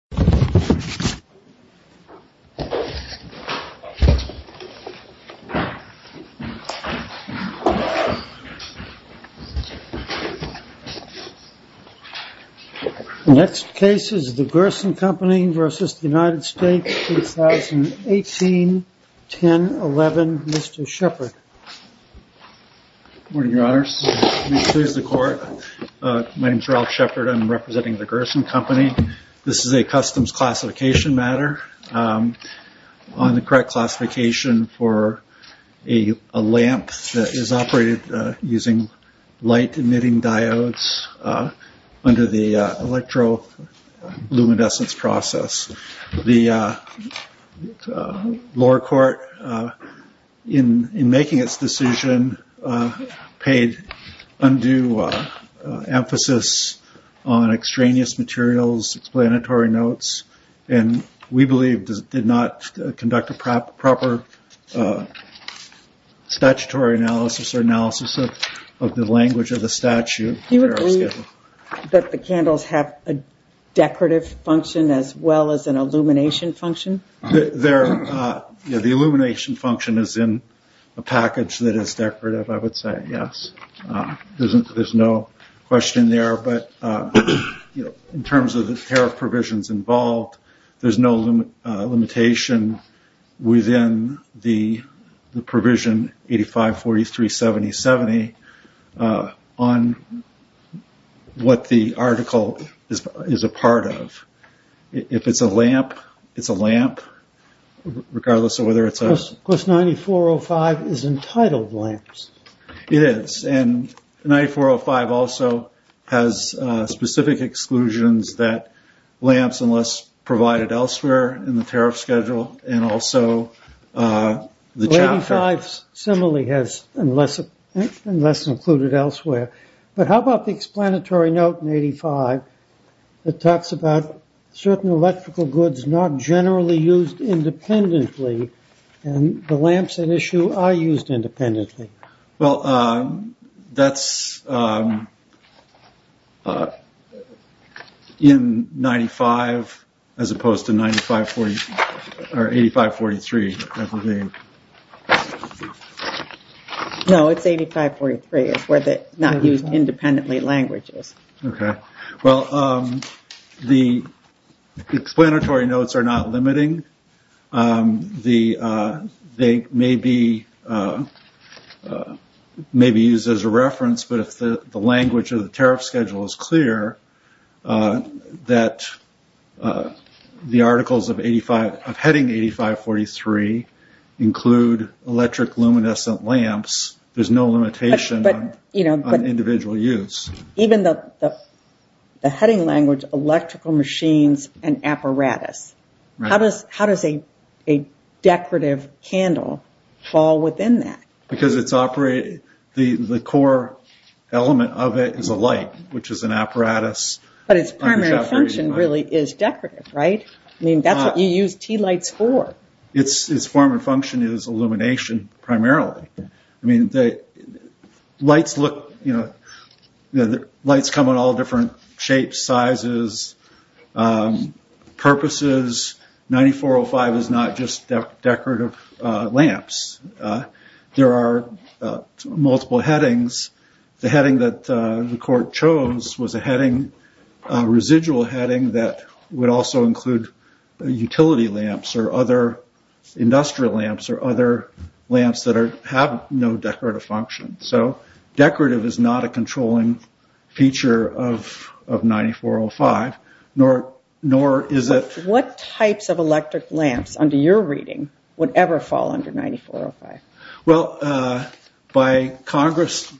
2018-10-11, Mr. Shepard. Next case is the Gerson Company v. United States 2018-10-11, Mr. Shepard. Good morning, Your Honors. Please excuse the court. My name is Ralph Shepard. I'm representing the Gerson Company. This is a customs classification matter on the correct classification for a lamp that is operated using light-emitting diodes under the electroluminescence process. The lower court, in making its decision, paid undue emphasis on extraneous materials, explanatory notes, and we believe did not conduct a proper statutory analysis or analysis of the language of the statute. Do you agree that the candles have a decorative function as well as an illumination function? The illumination function is in a package that is decorative, I would say, yes. There's no question there, but in terms of the tariff provisions involved, there's no limitation within the provision 85-43-70-70 on what the article is a part of. If it's a lamp, it's a lamp, regardless of whether it's a... Because 9405 is entitled lamps. It is, and 9405 also has specific exclusions that lamps, unless provided elsewhere in the tariff schedule, and also the chapter. 85 similarly has unless included elsewhere, but how about the explanatory note in 85 that talks about certain electrical goods not generally used independently, and the lamps in issue are used independently? Well, that's in 95 as opposed to 85-43, I believe. No, it's 85-43, it's where the not used independently language is. Okay. Well, the explanatory notes are not limiting, they may be used as a reference, but if the language of the tariff schedule is clear, that the articles of heading 85-43 include electric luminescent lamps, there's no limitation on individual use. Even the heading language, electrical machines and apparatus, how does a decorative candle fall within that? Because it's operated, the core element of it is a light, which is an apparatus. But its primary function really is decorative, right? I mean, that's what you use tea lights for. Its form and function is illumination primarily. I mean, lights come in all different shapes, sizes, purposes. 9405 is not just decorative lamps. There are multiple headings. The heading that the court chose was a residual heading that would also include utility lamps or other industrial lamps or other lamps that have no decorative function. So, decorative is not a controlling feature of 9405, nor is it... What types of electric lamps, under your reading, would ever fall under 9405? Well, by Congress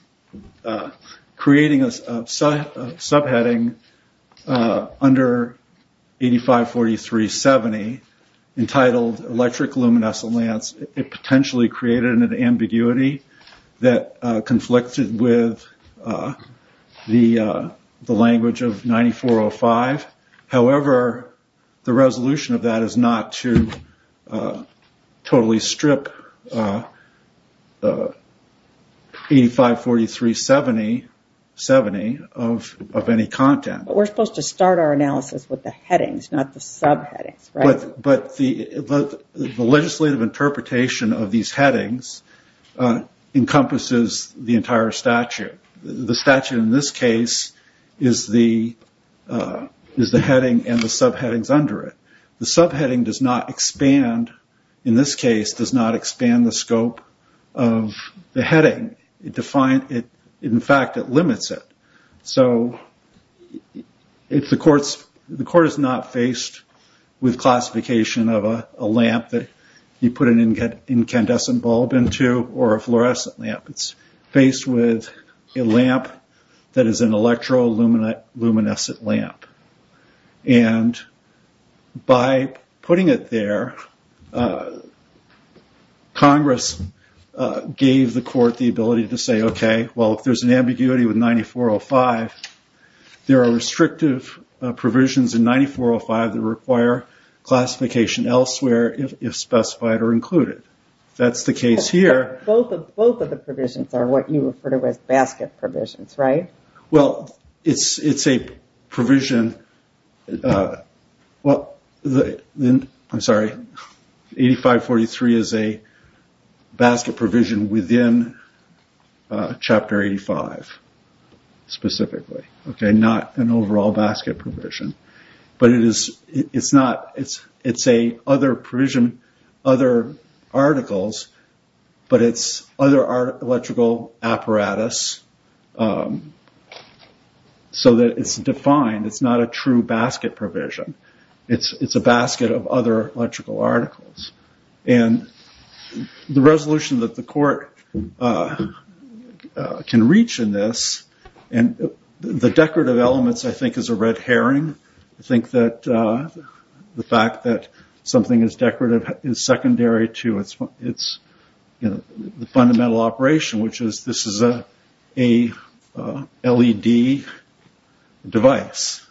creating a subheading under 85-43-70, entitled electric luminescent lamps, it potentially created an ambiguity that conflicted with the language of 9405. However, the resolution of that is not to totally strip 85-43-70 of any content. But we're supposed to start our analysis with the headings, not the subheadings, right? But the legislative interpretation of these headings encompasses the entire statute. The statute in this case is the heading and the subheadings under it. The subheading does not expand, in this case, does not expand the scope of the heading. In fact, it limits it. So, the court is not faced with classification of a lamp that you put an incandescent bulb into or a fluorescent lamp. It's faced with a lamp that is an electro-luminescent lamp. And by putting it there, Congress gave the court the ability to say, okay, well, if there's an ambiguity with 9405, there are restrictive provisions in 9405 that require classification elsewhere, if specified or included. That's the case here. Both of the provisions are what you refer to as basket provisions, right? Well, it's a provision. I'm sorry. 85-43 is a basket provision within Chapter 85, specifically. Not an overall basket provision. But it's a other provision, other articles, but it's other electrical apparatus, so that it's defined. It's not a true basket provision. It's a basket of other electrical articles. And the resolution that the court can reach in this, and the decorative elements, I think, is a red herring. I think that the fact that something is decorative is secondary to its fundamental operation, which is this is a LED device.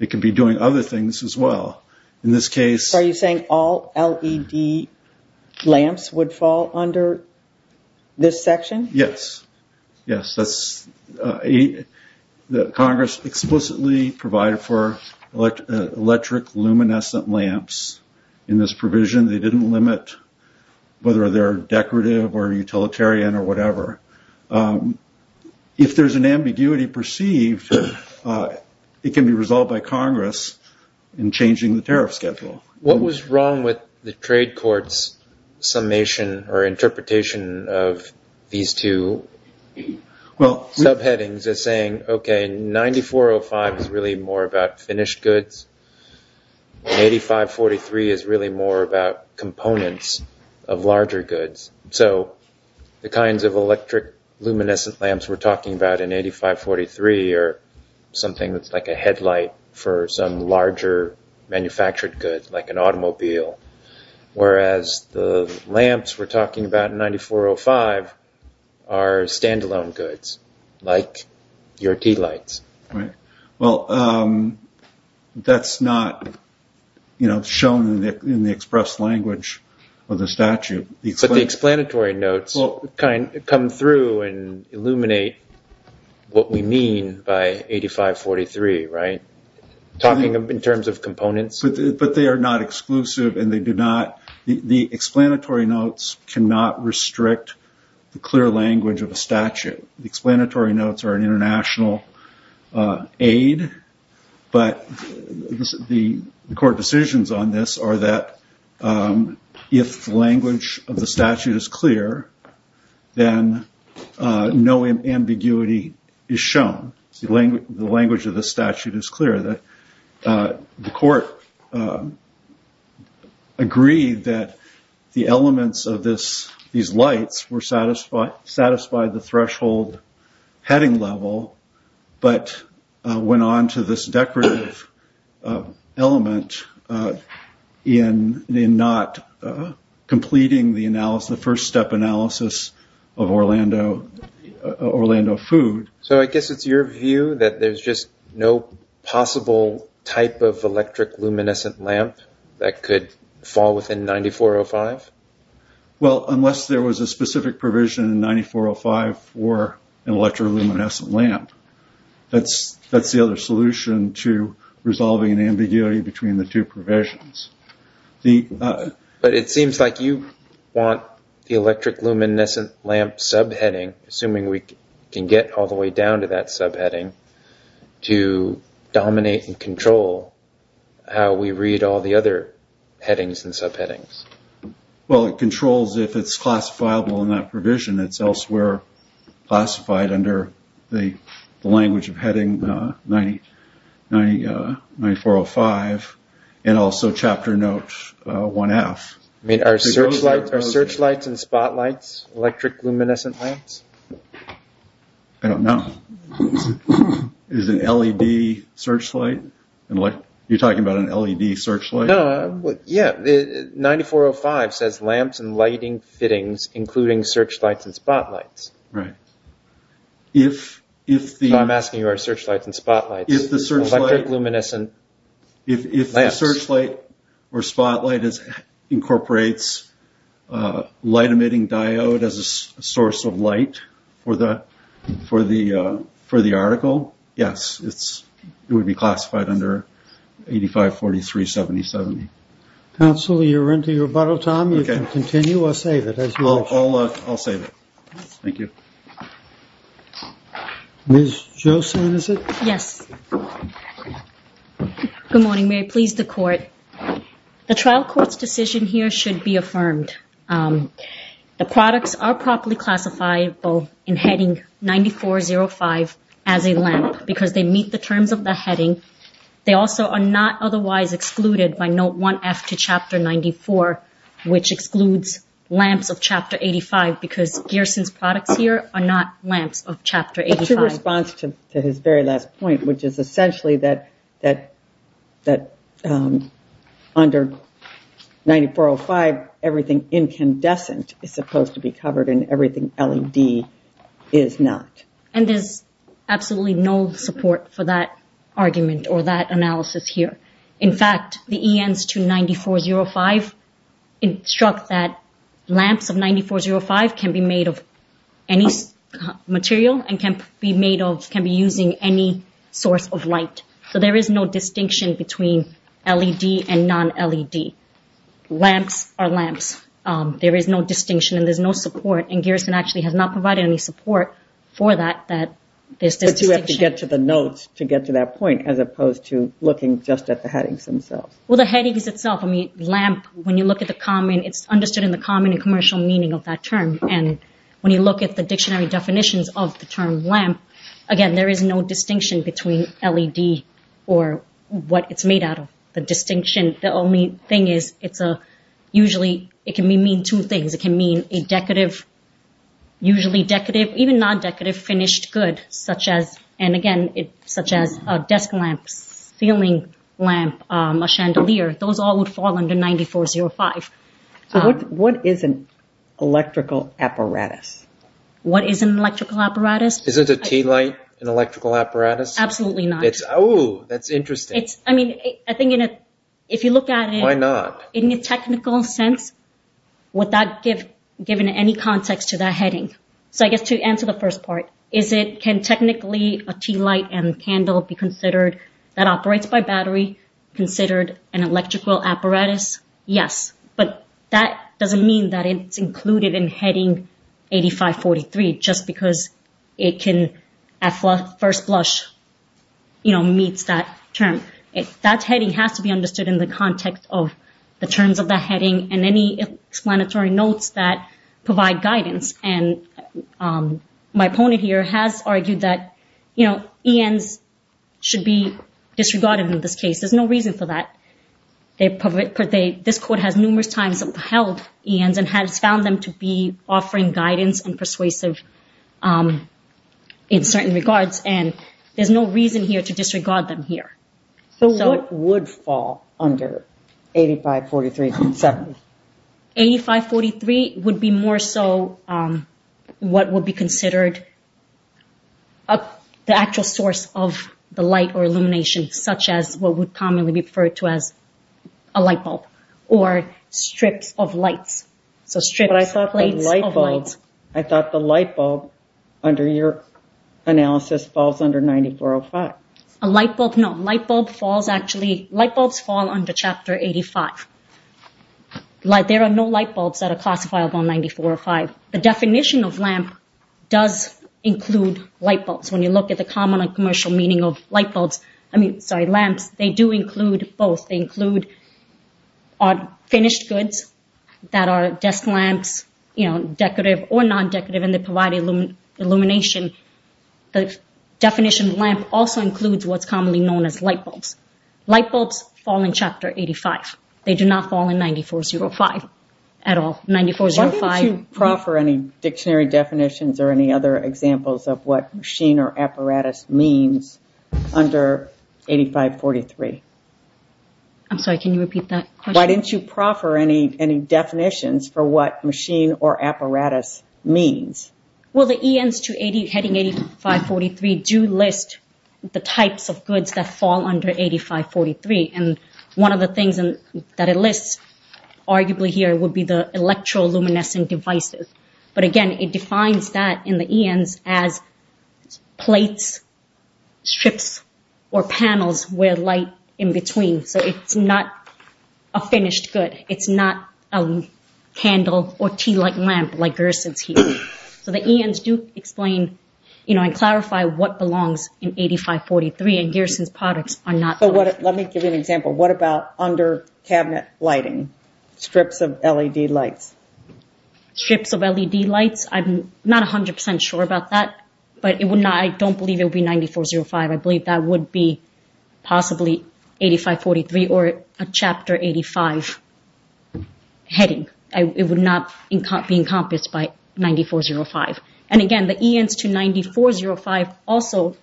It could be doing other things as well. Are you saying all LED lamps would fall under this section? Yes. Yes. Congress explicitly provided for electric luminescent lamps in this provision. They didn't limit whether they're decorative or utilitarian or whatever. If there's an ambiguity perceived, it can be resolved by Congress in changing the tariff schedule. What was wrong with the trade court's summation or interpretation of these two subheadings as saying, okay, 9405 is really more about finished goods, and 85-43 is really more about components of larger goods. So the kinds of electric luminescent lamps we're talking about in 85-43 are something that's like a headlight for some larger manufactured goods, like an automobile, whereas the lamps we're talking about in 9405 are standalone goods, like your tea lights. Right. Well, that's not shown in the express language of the statute. But the explanatory notes come through and illuminate what we mean by 85-43, right? Talking in terms of components. But they are not exclusive, and they do not – the explanatory notes cannot restrict the clear language of a statute. The explanatory notes are an international aid, but the court decisions on this are that if the language of the statute is clear, then no ambiguity is shown. The language of the statute is clear. The court agreed that the elements of these lights were satisfied the threshold heading level, but went on to this decorative element in not completing the first-step analysis of Orlando food. So I guess it's your view that there's just no possible type of electric luminescent lamp that could fall within 9405? Well, unless there was a specific provision in 9405 for an electric luminescent lamp. That's the other solution to resolving an ambiguity between the two provisions. But it seems like you want the electric luminescent lamp subheading, assuming we can get all the way down to that subheading, to dominate and control how we read all the other headings and subheadings. Well, it controls if it's classifiable in that provision. It's elsewhere classified under the language of heading 9405 and also chapter note 1F. Are searchlights and spotlights electric luminescent lamps? I don't know. Is it an LED searchlight? You're talking about an LED searchlight? 9405 says lamps and lighting fittings, including searchlights and spotlights. I'm asking you about searchlights and spotlights. Electric luminescent lamps. If the searchlight or spotlight incorporates a light-emitting diode as a source of light for the article, yes, it would be classified under 8543.7070. Counsel, you're into your bottle time. You can continue or save it as you wish. I'll save it. Thank you. Ms. Josephson, is it? Yes. Good morning. May it please the court. The trial court's decision here should be affirmed. The products are properly classifiable in heading 9405 as a lamp because they meet the terms of the heading. They also are not otherwise excluded by note 1F to chapter 94, which excludes lamps of chapter 85, because Gearson's products here are not lamps of chapter 85. To respond to his very last point, which is essentially that under 9405, everything incandescent is supposed to be covered and everything LED is not. And there's absolutely no support for that argument or that analysis here. In fact, the ENs to 9405 instruct that lamps of 9405 can be made of any material and can be using any source of light. So there is no distinction between LED and non-LED. Lamps are lamps. There is no distinction and there's no support, and Gearson actually has not provided any support for that. But you have to get to the notes to get to that point as opposed to looking just at the headings themselves. Well, the headings itself, I mean, lamp, when you look at the common, it's understood in the common and commercial meaning of that term. And when you look at the dictionary definitions of the term lamp, again, there is no distinction between LED or what it's made out of. The distinction, the only thing is it's usually, it can mean two things. It can mean a decorative, usually decorative, even non-decorative finished good, such as, and again, such as a desk lamp, ceiling lamp, a chandelier. Those all would fall under 9405. So what is an electrical apparatus? What is an electrical apparatus? Isn't a tea light an electrical apparatus? Absolutely not. Oh, that's interesting. I mean, I think if you look at it. Why not? So in a technical sense, would that give, given any context to that heading? So I guess to answer the first part, is it, can technically a tea light and candle be considered, that operates by battery, considered an electrical apparatus? Yes. But that doesn't mean that it's included in heading 8543, just because it can, at first blush, you know, meets that term. So that heading has to be understood in the context of the terms of the heading and any explanatory notes that provide guidance. And my opponent here has argued that, you know, ENs should be disregarded in this case. There's no reason for that. This court has numerous times upheld ENs and has found them to be offering guidance and persuasive in certain regards. And there's no reason here to disregard them here. So what would fall under 8543? 8543 would be more so what would be considered the actual source of the light or illumination, such as what would commonly be referred to as a light bulb or strips of lights. So strips, plates of lights. I thought the light bulb, under your analysis, falls under 9405. A light bulb, no. Light bulbs fall under Chapter 85. There are no light bulbs that are classifiable in 9405. The definition of lamp does include light bulbs. When you look at the common and commercial meaning of lamps, they do include both. They include finished goods that are desk lamps, you know, decorative or non-decorative, and they provide illumination. The definition of lamp also includes what's commonly known as light bulbs. Light bulbs fall in Chapter 85. They do not fall in 9405 at all, 9405. Why don't you proffer any dictionary definitions or any other examples of what machine or apparatus means under 8543? I'm sorry, can you repeat that question? Why didn't you proffer any definitions for what machine or apparatus means? Well, the ENs heading 8543 do list the types of goods that fall under 8543, and one of the things that it lists arguably here would be the electroluminescent devices. But again, it defines that in the ENs as plates, strips, or panels where light in between. So it's not a finished good. It's not a candle or tea-like lamp like Gerson's here. So the ENs do explain and clarify what belongs in 8543, and Gerson's products are not. Let me give you an example. What about under-cabinet lighting, strips of LED lights? Strips of LED lights, I'm not 100% sure about that, but I don't believe it would be 9405. I believe that would be possibly 8543 or a Chapter 85 heading. It would not be encompassed by 9405. And again, the ENs to 9405 also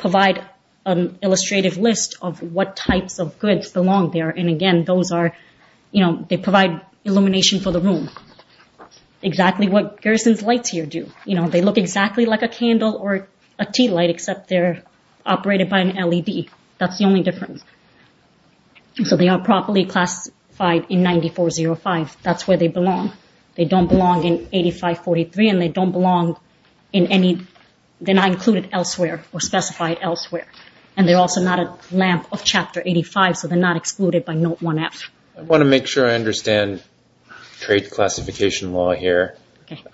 provide an illustrative list of what types of goods belong there, and again, they provide illumination for the room. Exactly what Gerson's lights here do. They look exactly like a candle or a tea light, except they're operated by an LED. That's the only difference. So they are properly classified in 9405. That's where they belong. They don't belong in 8543, and they're not included elsewhere or specified elsewhere. And they're also not a lamp of Chapter 85, so they're not excluded by Note 1F. I want to make sure I understand trade classification law here.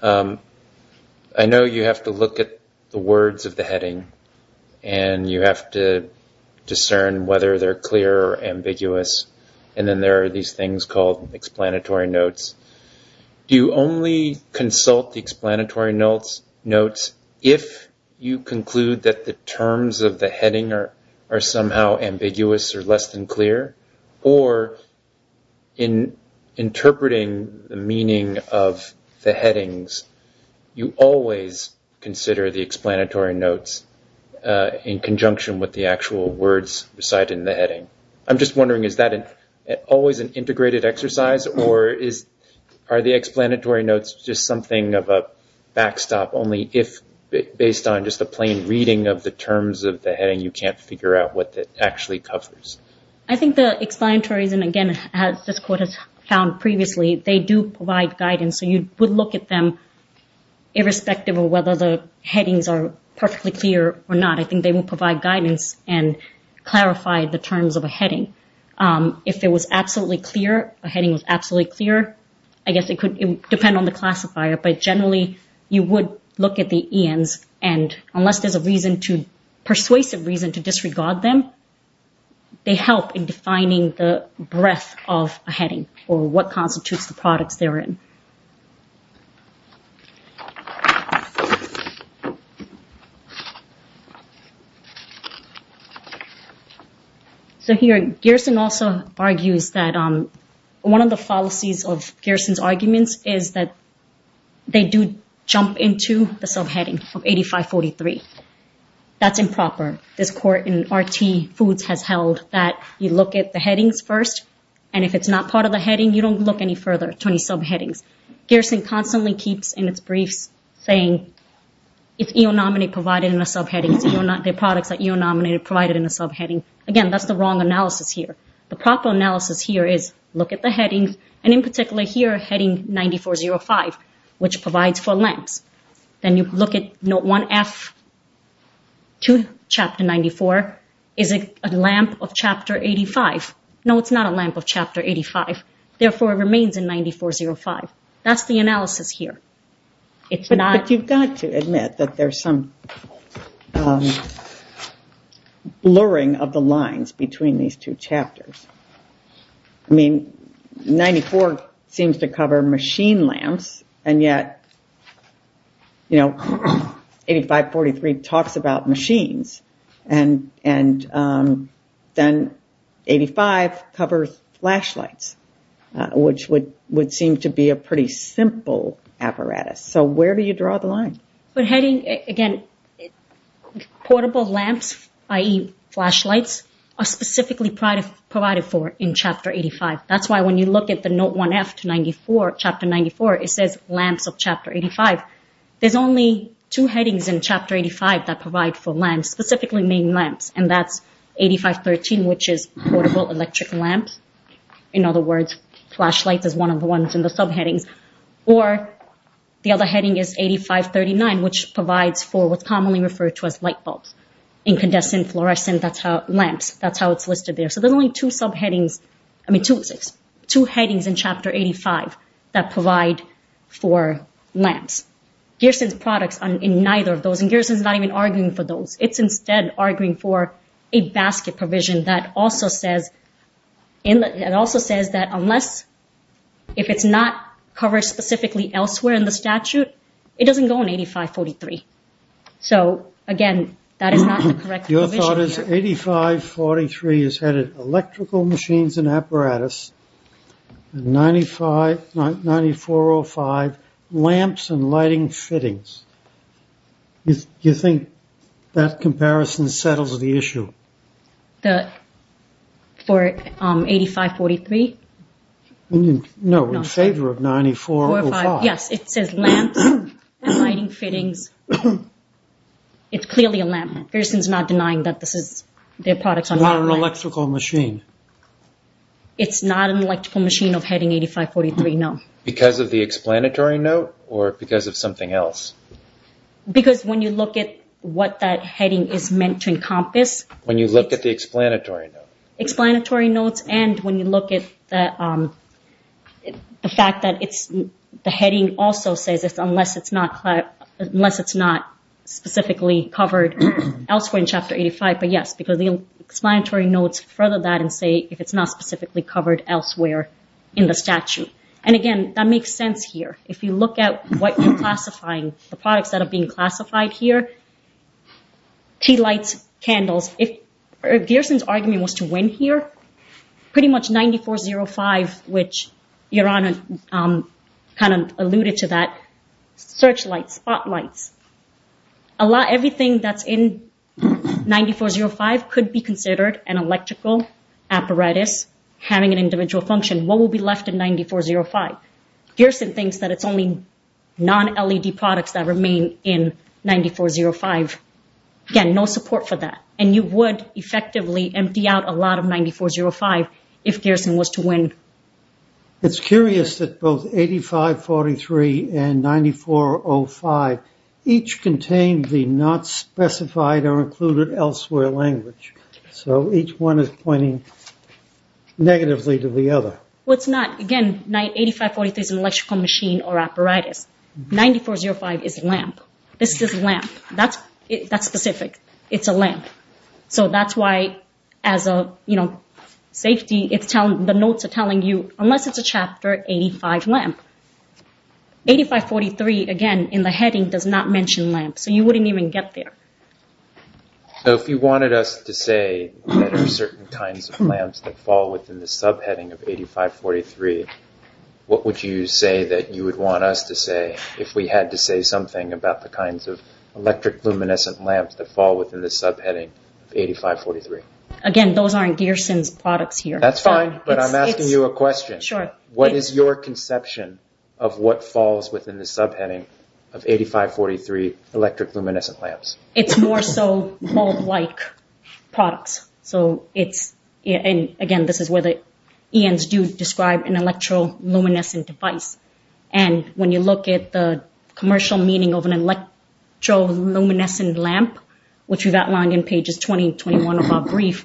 I know you have to look at the words of the heading, and you have to discern whether they're clear or ambiguous, and then there are these things called explanatory notes. Do you only consult the explanatory notes if you conclude that the terms of the heading are somehow ambiguous or less than clear, or in interpreting the meaning of the headings, you always consider the explanatory notes in conjunction with the actual words recited in the heading? I'm just wondering, is that always an integrated exercise, or are the explanatory notes just something of a backstop, only if, based on just a plain reading of the terms of the heading, you can't figure out what that actually covers? I think the explanatories, and again, as this Court has found previously, they do provide guidance, so you would look at them irrespective of whether the headings are perfectly clear or not. I think they will provide guidance and clarify the terms of a heading. If it was absolutely clear, a heading was absolutely clear, I guess it would depend on the classifier, but generally you would look at the ians, and unless there's a persuasive reason to disregard them, they help in defining the breadth of a heading or what constitutes the products they're in. So here, Gerson also argues that one of the fallacies of Gerson's arguments is that they do jump into the subheading of 8543. That's improper. This Court in R.T. Foods has held that you look at the headings first, and if it's not part of the heading, you don't look any further to any subheadings. Gerson constantly keeps, in its briefs, saying, if eonominate provided in a subheading, the products that eonominate are provided in a subheading. Again, that's the wrong analysis here. The proper analysis here is look at the headings, and in particular here, heading 9405, which provides for lamps. Then you look at Note 1F to Chapter 94. Is it a lamp of Chapter 85? No, it's not a lamp of Chapter 85. Therefore, it remains in 9405. That's the analysis here. But you've got to admit that there's some blurring of the lines between these two chapters. I mean, 94 seems to cover machine lamps, and yet 8543 talks about machines, and then 85 covers flashlights, which would seem to be a pretty simple apparatus. So where do you draw the line? Again, portable lamps, i.e. flashlights, are specifically provided for in Chapter 85. That's why when you look at the Note 1F to Chapter 94, it says lamps of Chapter 85. There's only two headings in Chapter 85 that provide for lamps, specifically main lamps, and that's 8513, which is portable electric lamps. In other words, flashlights is one of the ones in the subheadings. Or the other heading is 8539, which provides for what's commonly referred to as light bulbs, incandescent fluorescent lamps. That's how it's listed there. So there's only two subheadings, I mean, two headings in Chapter 85 that provide for lamps. Gearson's products are in neither of those, and Gearson's not even arguing for those. It's instead arguing for a basket provision that also says that unless, if it's not covered specifically elsewhere in the statute, it doesn't go in 8543. So, again, that is not the correct provision here. Your thought is 8543 is headed electrical machines and apparatus, and 9405, lamps and lighting fittings. Do you think that comparison settles the issue? For 8543? No, in favor of 9405. Yes, it says lamps and lighting fittings. It's clearly a lamp. Gearson's not denying that this is their product. It's not an electrical machine. It's not an electrical machine of heading 8543, no. Because of the explanatory note or because of something else? Because when you look at what that heading is meant to encompass. When you look at the explanatory note. Explanatory notes and when you look at the fact that the heading also says unless it's not specifically covered elsewhere in Chapter 85. But, yes, because the explanatory notes further that and say if it's not specifically covered elsewhere in the statute. And, again, that makes sense here. If you look at what you're classifying, the products that are being classified here, tea lights, candles. If Gearson's argument was to win here, pretty much 9405, which Your Honor kind of alluded to that, searchlights, spotlights. Everything that's in 9405 could be considered an electrical apparatus having an individual function. What would be left in 9405? Gearson thinks that it's only non-LED products that remain in 9405. Again, no support for that. And you would effectively empty out a lot of 9405 if Gearson was to win. It's curious that both 8543 and 9405 each contain the not specified or included elsewhere language. So each one is pointing negatively to the other. Well, it's not. Again, 8543 is an electrical machine or apparatus. 9405 is a lamp. This is a lamp. That's specific. It's a lamp. So that's why, as a safety, the notes are telling you, unless it's a Chapter 85 lamp. 8543, again, in the heading, does not mention lamp. So you wouldn't even get there. If you wanted us to say there are certain kinds of lamps that fall within the subheading of 8543, what would you say that you would want us to say if we had to say something about the kinds of electric luminescent lamps that fall within the subheading of 8543? Again, those aren't Gearson's products here. That's fine, but I'm asking you a question. Sure. What is your conception of what falls within the subheading of 8543 electric luminescent lamps? It's more so bulb-like products. Again, this is where the ENs do describe an electroluminescent device. When you look at the commercial meaning of an electroluminescent lamp, which we've outlined in pages 20 and 21 of our brief,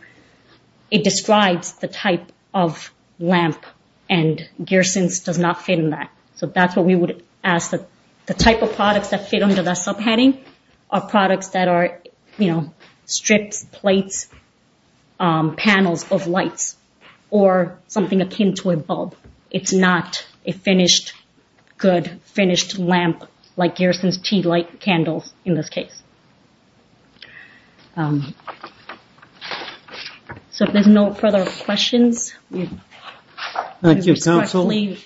it describes the type of lamp, and Gearson's does not fit in that. So that's what we would ask. The type of products that fit under the subheading are products that are strips, plates, panels of lights, or something akin to a bulb. It's not a finished, good, finished lamp like Gearson's tea light candles, in this case. If there's no further questions, we respectfully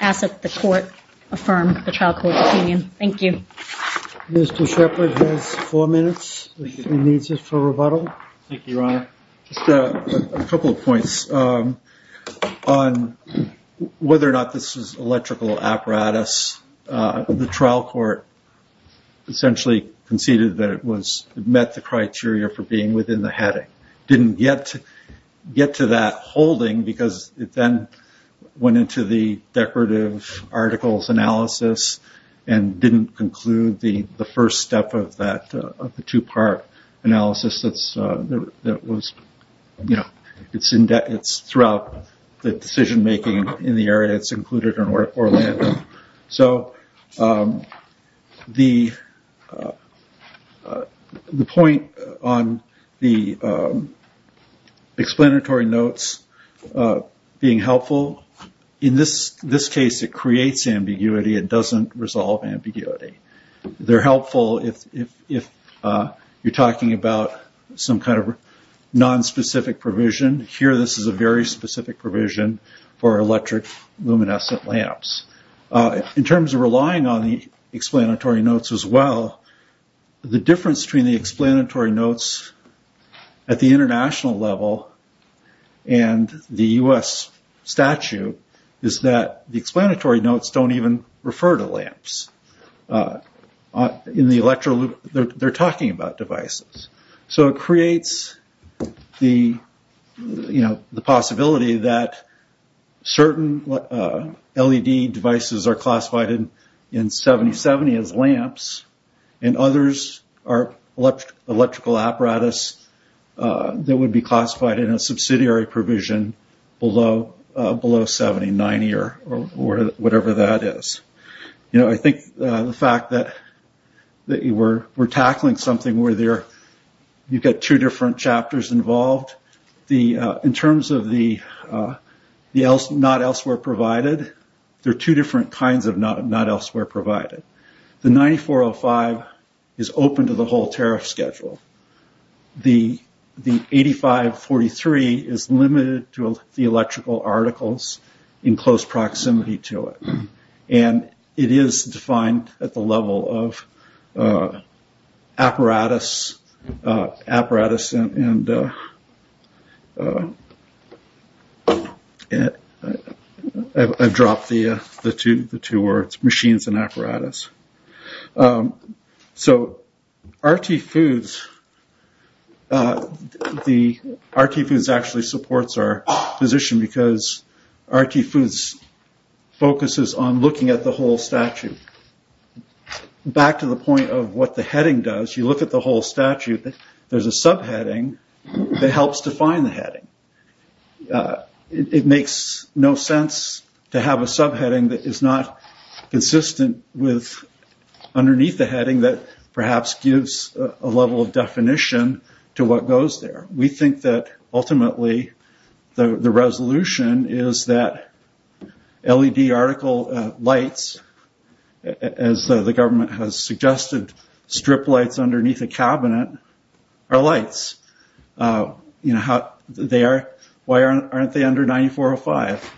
ask that the Court affirm the trial court's opinion. Thank you. Mr. Shepard has four minutes if he needs it for rebuttal. Thank you, Your Honor. Just a couple of points. On whether or not this is electrical apparatus, the trial court essentially conceded that it met the criteria for being within the heading. It didn't get to that holding because it then went into the decorative articles analysis and didn't conclude the first step of the two-part analysis that was throughout the decision-making in the area. It's included in Orlando. So the point on the explanatory notes being helpful, in this case it creates ambiguity, it doesn't resolve ambiguity. They're helpful if you're talking about some kind of nonspecific provision. Here this is a very specific provision for electric luminescent lamps. In terms of relying on the explanatory notes as well, the difference between the explanatory notes at the international level and the U.S. statute is that the explanatory notes don't even refer to lamps. They're talking about devices. So it creates the possibility that certain LED devices are classified in 70-70 as lamps and others are electrical apparatus that would be classified in a subsidiary provision below 70-90 or whatever that is. I think the fact that we're tackling something where you get two different chapters involved, in terms of the not elsewhere provided, there are two different kinds of not elsewhere provided. The 9405 is open to the whole tariff schedule. The 8543 is limited to the electrical articles in close proximity to it. It is defined at the level of apparatus and I've dropped the two words, machines and apparatus. RT Foods actually supports our position because RT Foods focuses on looking at the whole statute. Back to the point of what the heading does, you look at the whole statute, there's a subheading that helps define the heading. It makes no sense to have a subheading that is not consistent with underneath the heading that perhaps gives a level of definition to what goes there. We think that ultimately the resolution is that LED article lights, as the government has suggested, strip lights underneath a cabinet are lights. Why aren't they under 9405?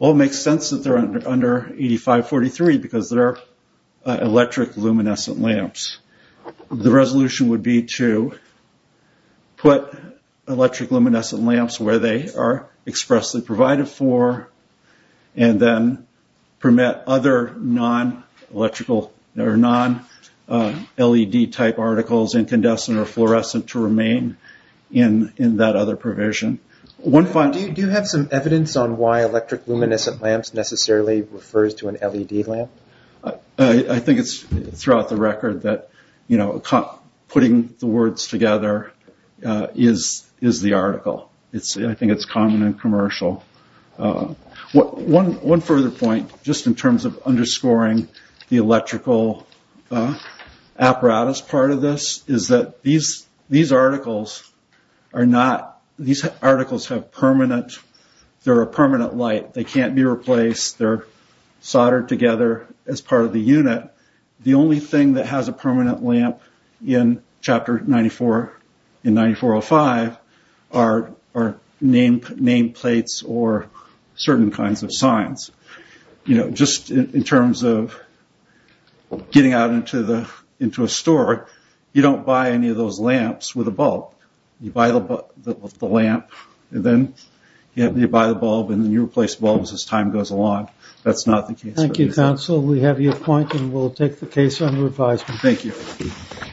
It makes sense that they're under 8543 because they're electric luminescent lamps. The resolution would be to put electric luminescent lamps where they are expressly provided for and then permit other non-LED type articles, incandescent or fluorescent, to remain in that other provision. Do you have some evidence on why electric luminescent lamps necessarily refers to an LED lamp? I think it's throughout the record that putting the words together is the article. I think it's common and commercial. One further point, just in terms of underscoring the electrical apparatus part of this, is that these articles have permanent, they're a permanent light. They can't be replaced, they're soldered together as part of the unit. The only thing that has a permanent lamp in chapter 9405 are nameplates or certain kinds of signs. Just in terms of getting out into a store, you don't buy any of those lamps with a bulb. You buy the lamp and then you buy the bulb and then you replace bulbs as time goes along. That's not the case. Thank you, counsel. We have your point and we'll take the case under advisement. Thank you.